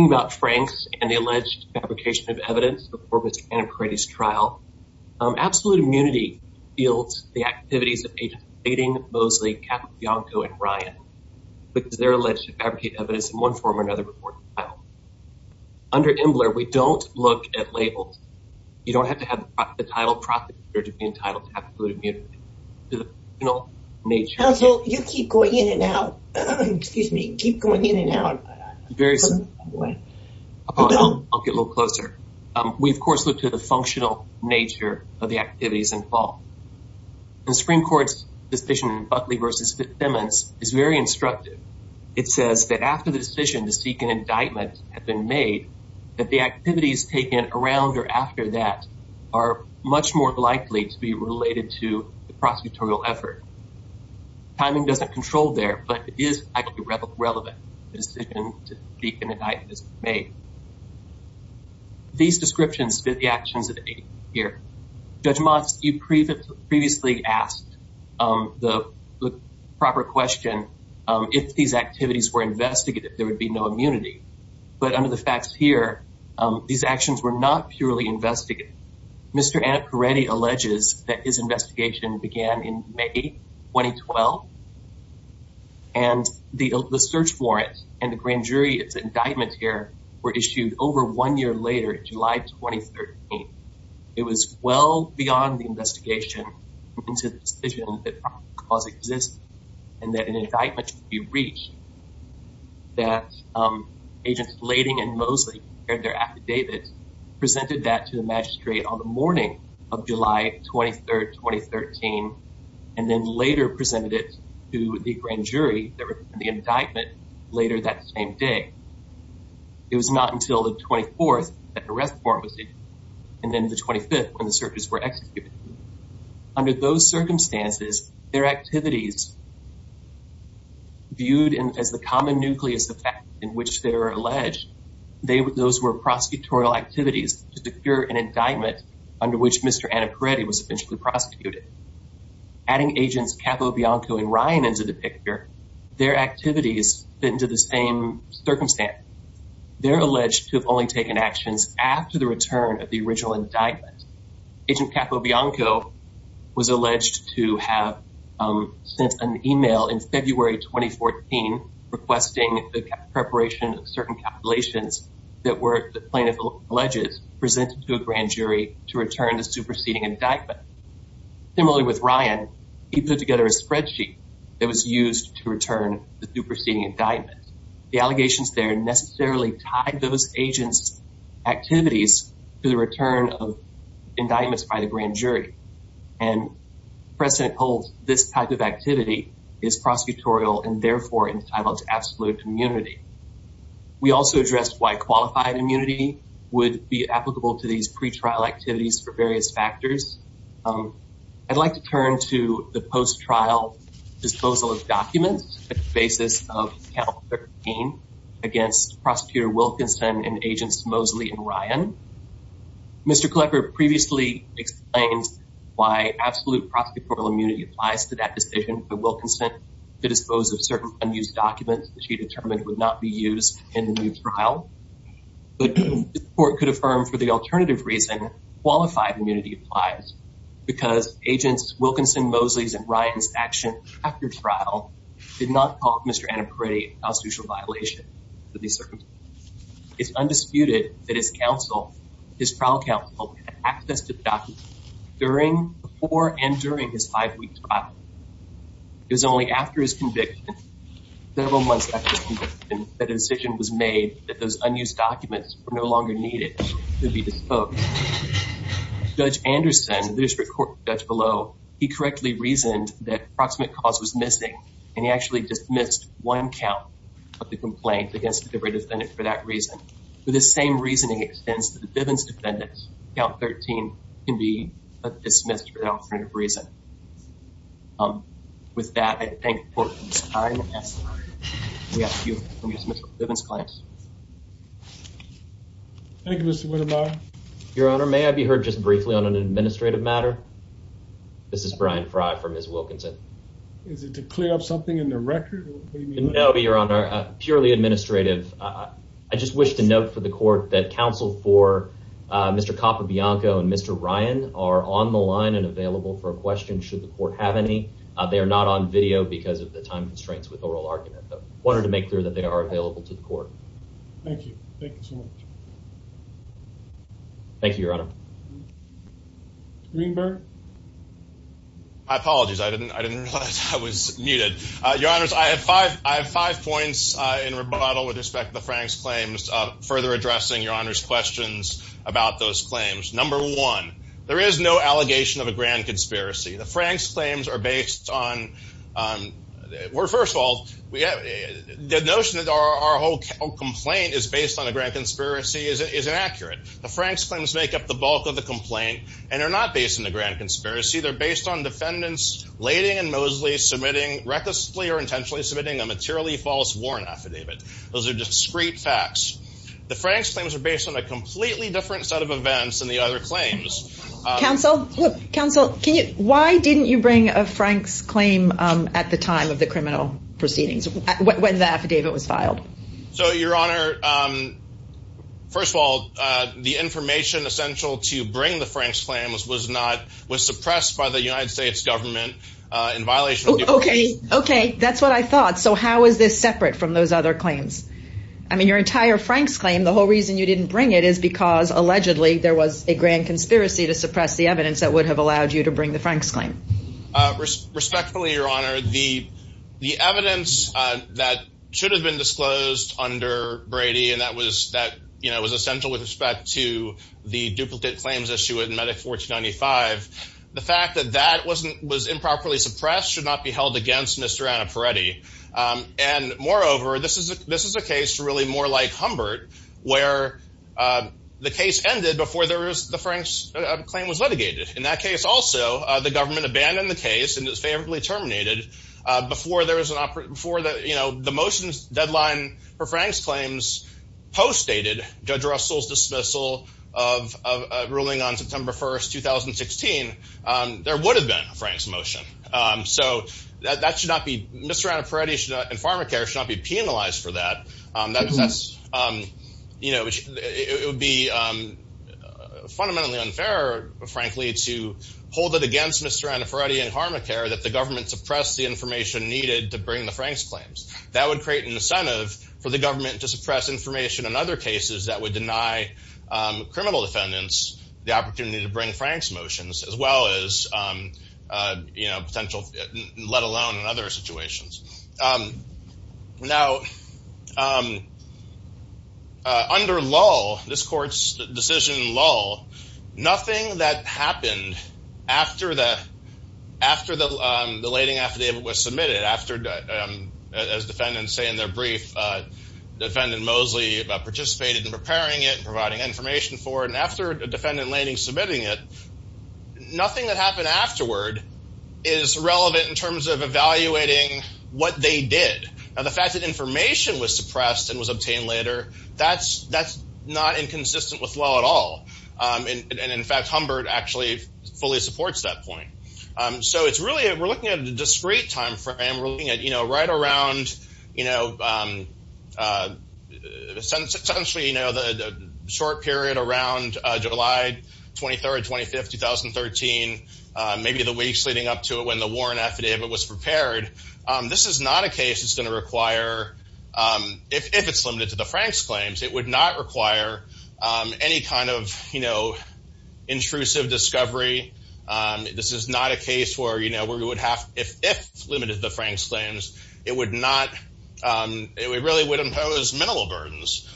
about Frank's and the alleged fabrication of evidence before his trial, absolute immunity fields, the activities of aiding Mosley, Bianco, and Ryan, because they're alleged to fabricate evidence in one form or another. Under Imbler, we don't look at labels. You don't have to have the title prosecutor to be entitled to absolute immunity. You keep going in and out. Excuse me. Keep going in and out. I'll get a little closer. We, of course, look to the functional nature of the activities involved. The Supreme Court's decision in Buckley v. Simmons is very instructive. It says that after the decision to seek an indictment had been made, that the activities taken around or after that are much more likely to be related to the prosecutorial effort. Timing doesn't control there, but it is actually relevant. The decision to seek an indictment is made. These descriptions fit the actions of the year. Judge Moss, you previously asked the proper question, if these activities were investigated, there would be no immunity. But under the facts here, these actions were not purely investigated. Mr. Annaparetti alleges that his investigation began in May 2012, and the search warrant and the grand jury indictment here were issued over one year later, July 2013. It was well beyond the investigation into the decision that the indictment should be reached that Agents Blading and Mosley shared their affidavits, presented that to the magistrate on the morning of July 23, 2013, and then later presented it to the grand jury that were in the indictment later that same day. It was not until the 24th that the arrest warrant was issued, and then the 25th when the searches were executed. Under those circumstances, their activities viewed as the common nucleus of fact in which they were alleged, those were prosecutorial activities to secure an indictment under which Mr. Annaparetti was officially prosecuted. Adding Agents Capobianco and Ryan into the picture, their activities fit into the same circumstance. They're alleged to have only taken actions after the return of the sent an email in February 2014 requesting the preparation of certain calculations that were, the plaintiff alleges, presented to a grand jury to return the superseding indictment. Similarly with Ryan, he put together a spreadsheet that was used to return the superseding indictment. The allegations there necessarily tied those agents' activities to the return of indictments by the grand jury, and precedent holds this type of activity is prosecutorial and therefore entitled to absolute immunity. We also addressed why qualified immunity would be applicable to these pre-trial activities for various factors. I'd like to turn to the post-trial disposal of documents on the basis of account 13 against Prosecutor Wilkinson and Agents Mosley and Ryan. Mr. Klecker previously explained why absolute prosecutorial immunity applies to that decision for Wilkinson to dispose of certain unused documents that she determined would not be used in the new trial, but the court could affirm for the alternative reason qualified immunity applies because Agents Wilkinson, Mosley's, and Ryan's action after trial did not call Mr. Annaparetti a constitutional violation of these circumstances. It's undisputed that his trial counsel had access to the documents before and during his five-week trial. It was only after his conviction, several months after his conviction, that a decision was made that those unused documents were no longer needed to be disposed of. Judge Anderson, the district court judge below, he correctly reasoned that proximate cause was missing, and he actually dismissed one count of the complaint against the debris defendant for that reason. With the same reasoning, it extends to the Bivens defendant. Account 13 can be dismissed for the alternative reason. With that, I thank the court for its time. We ask that you confirm your dismissal of the Bivens claim. Thank you, Mr. Widemeyer. Your Honor, may I be heard just briefly on an administrative matter? This is Brian Frye for Ms. Wilkinson. Is it to clear up something in the record? No, Your Honor, purely administrative. I just wish to note for the court that counsel for Mr. Capobianco and Mr. Ryan are on the line and available for a question should the court have any. They are not on video because of the time constraints with oral argument, but wanted to make clear that they apologize. I didn't realize I was muted. Your Honor, I have five points in rebuttal with respect to the Franks claims, further addressing Your Honor's questions about those claims. Number one, there is no allegation of a grand conspiracy. The Franks claims are based on, well, first of all, the notion that our whole complaint is based on a grand conspiracy is inaccurate. The Franks claims make up the bulk of the complaint, and they're not based on a grand conspiracy. They're based on defendants Lading and Mosley submitting recklessly or intentionally submitting a materially false warrant affidavit. Those are discrete facts. The Franks claims are based on a completely different set of events than the other claims. Counsel, why didn't you bring a Franks claim at the time of the criminal proceedings when the affidavit was filed? So, Your Honor, first of all, the information essential to bring the Franks claims was suppressed by the United States government in violation of the... Okay. Okay. That's what I thought. So, how is this separate from those other claims? I mean, your entire Franks claim, the whole reason you didn't bring it is because, allegedly, there was a grand conspiracy to suppress the evidence that would have allowed you to bring the Franks claim. Respectfully, Your Honor, the evidence that should have been disclosed under Brady, and that was essential with respect to the duplicate claims issue in Medic 1495, the fact that that was improperly suppressed should not be held against Mr. Annaparetti. And, moreover, this is a case really more like Humbert, where the case ended before the Franks claim was litigated. In that case, also, the government abandoned the case and it was favorably terminated before the motion's deadline for Franks claims postdated Judge Russell's dismissal of ruling on September 1st, 2016, there would have been a Franks motion. So, that should not be... Mr. Annaparetti and Pharmacare should not be penalized for that. That's... It would be fundamentally unfair, frankly, to hold it against Mr. Annaparetti and Pharmacare that the government suppressed the information needed to bring the Franks claims. That would create an incentive for the government to suppress information in other cases that would deny criminal defendants the opportunity to bring Franks motions, as well as, you know, potential, let alone in other situations. Now, under lull, this court's decision lull, nothing that happened after the lading affidavit was submitted, after, as defendants say in their brief, defendant Mosley participated in preparing it, providing information for it, and after a defendant lading submitting it, nothing that happened afterward is relevant in terms of evaluating what they did. Now, the fact that information was suppressed and was obtained later, that's not inconsistent with lull at all. And in fact, Humbert actually fully supports that point. So, it's really... We're looking at a discrete time frame. We're looking at, you know, right around, you know, essentially, you know, the short period around July 23rd, 25th, 2013, maybe the weeks leading up to it when the Warren affidavit was prepared. This is not a case that's It would not require any kind of, you know, intrusive discovery. This is not a case where, you know, we would have, if limited to the Franks claims, it would not, it really would impose minimal burdens.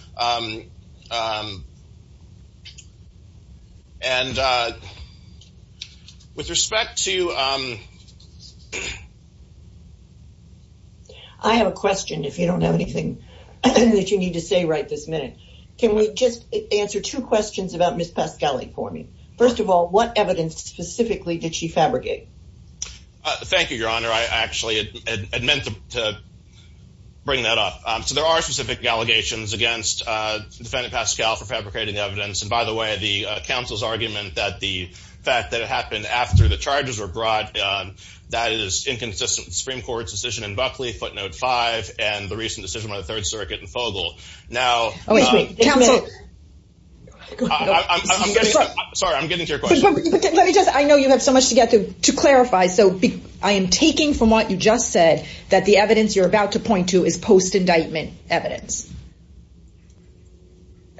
And with respect to... I have a question, if you don't have anything that you need to say right this minute. Can we just answer two questions about Ms. Pascali for me? First of all, what evidence specifically did she fabricate? Thank you, Your Honor. I actually had meant to bring that up. So, there are specific allegations against defendant Pascali for fabricating evidence. And by the way, the counsel's argument that the fact that it happened after the charges were brought, that is inconsistent with the Supreme Court's decision in Buckley, footnote five, and the recent decision by the Third Circuit in Fogle. Now... Sorry, I'm getting to your question. Let me just, I know you have so much to get to clarify. So, I am taking from what you just said, that the evidence you're about to point to is post indictment evidence.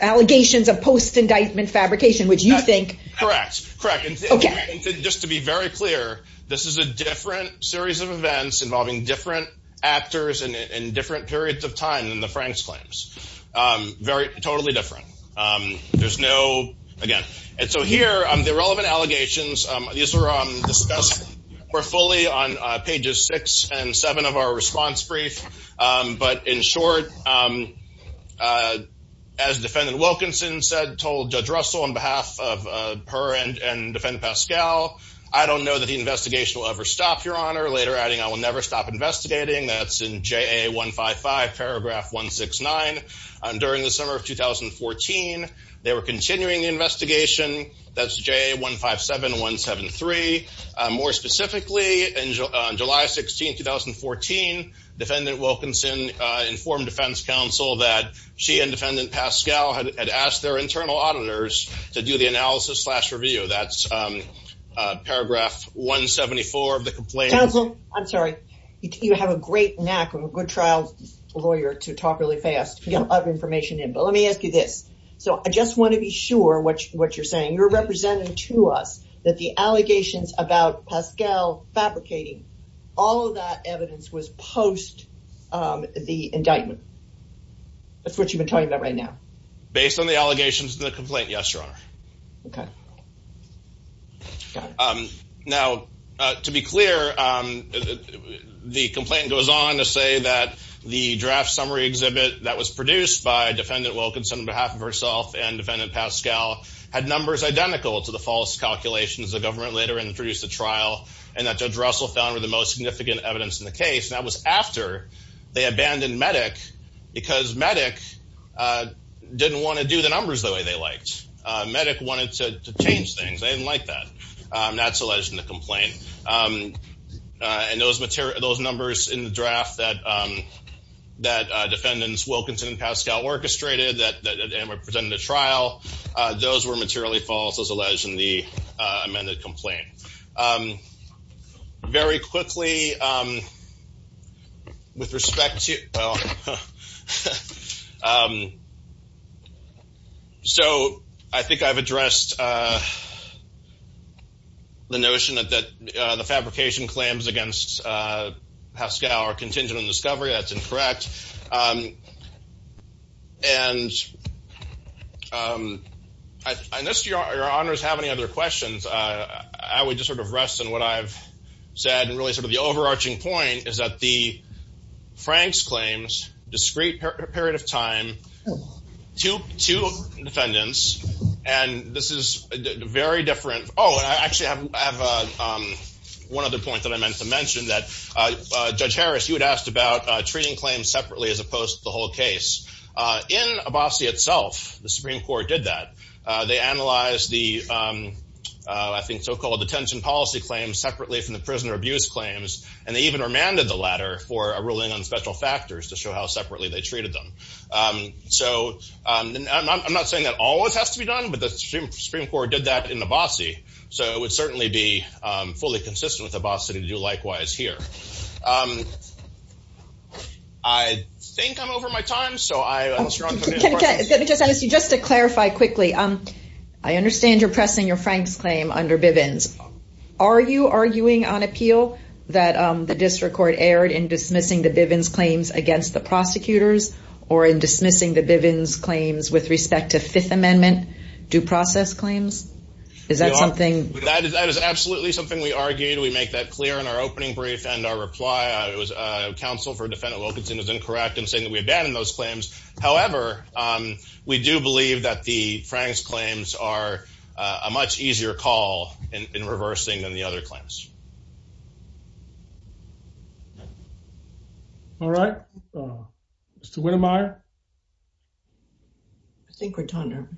Allegations of post indictment fabrication, which you think... This is a different series of events involving different actors in different periods of time than the Frank's claims. Totally different. There's no... Again. And so here, the relevant allegations, these were discussed more fully on pages six and seven of our response brief. But in short, as defendant Wilkinson said, told Judge Russell on behalf of her and defendant Pascali, I don't know that the investigation will ever stop, Your Honor. Later adding, I will never stop investigating. That's in JA 155, paragraph 169. During the summer of 2014, they were continuing the investigation. That's JA 157, 173. More specifically, in July 16, 2014, defendant Wilkinson informed defense counsel that she and defendant Pascali had asked their internal auditors to do the analysis slash review. That's paragraph 174 of the complaint. Counsel, I'm sorry. You have a great knack. I'm a good trial lawyer to talk really fast. You have other information in. But let me ask you this. So, I just want to be sure what you're saying. You're representing to us that the allegations about Pascali fabricating all of that evidence was post the indictment. That's what you've been talking about right now. Based on the allegations in the complaint, yes, Your Honor. Okay. Now, to be clear, the complaint goes on to say that the draft summary exhibit that was produced by defendant Wilkinson on behalf of herself and defendant Pascali had numbers identical to the false calculations the government later introduced the trial and that Judge Russell found were the most significant evidence in the case. That was after they abandoned Medic because Medic didn't want to do the numbers the way they liked. Medic wanted to change things. They didn't like that. That's alleged in the complaint. And those numbers in the draft that defendants Wilkinson and Pascali orchestrated that were presented in the trial, those were materially false as alleged in the amended complaint. Very quickly, with respect to... So, I think I've addressed the notion that the fabrication claims against Pascali are contingent on discovery. That's incorrect. And unless Your Honors have any other questions, I would just sort of rest on what I've said and really sort of the overarching point is that the Franks claims, discrete period of time, two defendants, and this is very different. Oh, and I actually have one other point that I meant to mention that Judge Harris, you had asked about treating claims separately as opposed to the whole case. In Abbasi itself, the Supreme Court did that. They analyzed the, I think, so-called detention policy claims separately from the prisoner abuse claims. And they even remanded the latter for a ruling on special factors to show how separately they treated them. So, I'm not saying that always has to be done, but the Supreme Court did that in Abbasi. So, it would certainly be fully consistent with Abbasi to do likewise here. I think I'm over my time, so I... Can I just ask you, just to clarify quickly, I understand you're pressing your Franks claim under Bivens. Are you arguing on appeal that the district court erred in dismissing the Bivens against the prosecutors or in dismissing the Bivens claims with respect to Fifth Amendment due process claims? Is that something... That is absolutely something we argued. We make that clear in our opening brief and our reply. It was counsel for defendant Wilkinson was incorrect in saying that we abandoned those claims. However, we do believe that the Franks claims are a much easier call in reversing than the other claims. All right. Mr. Wintermeyer. I think we're done here.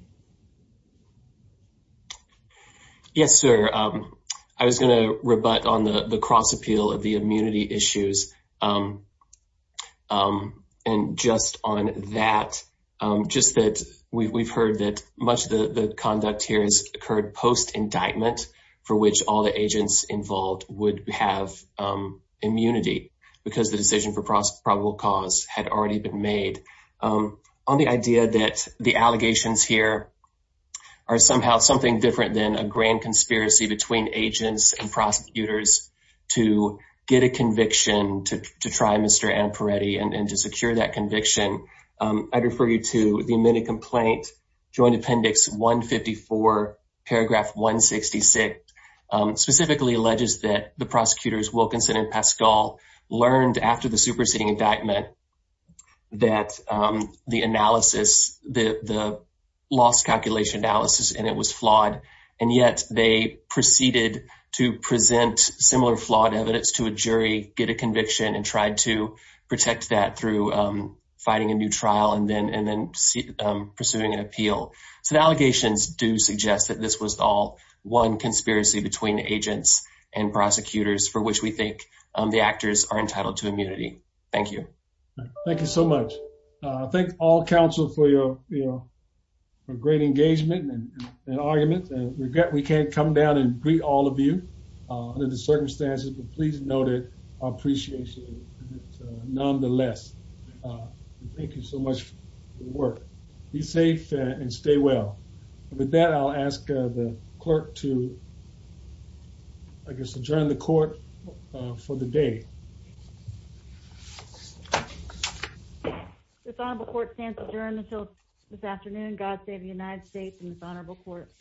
Yes, sir. I was going to rebut on the cross appeal of the immunity issues. And just on that, just that we've heard that much of the conduct here has occurred post-indictment for which all the agents involved would have immunity because the decision for probable cause had already been made. On the idea that the allegations here are somehow something different than a grand conspiracy between agents and prosecutors to get a conviction to try Mr. Amparetti and to secure that conviction, I'd refer you to the specifically alleges that the prosecutors Wilkinson and Pascal learned after the superseding indictment that the analysis, the loss calculation analysis, and it was flawed. And yet they proceeded to present similar flawed evidence to a jury, get a conviction, and tried to protect that through fighting a new trial and then pursuing an appeal. So the allegations do suggest that this was all one conspiracy between agents and prosecutors for which we think the actors are entitled to immunity. Thank you. Thank you so much. Thank all counsel for your great engagement and arguments and regret we can't come down and greet all of you under the circumstances, but please know that our appreciation. Nonetheless, thank you so much for your work. Be safe and stay well. With that, I'll ask the clerk to, I guess, adjourn the court for the day. This honorable court stands adjourned until this afternoon. God save the United States and this honorable court.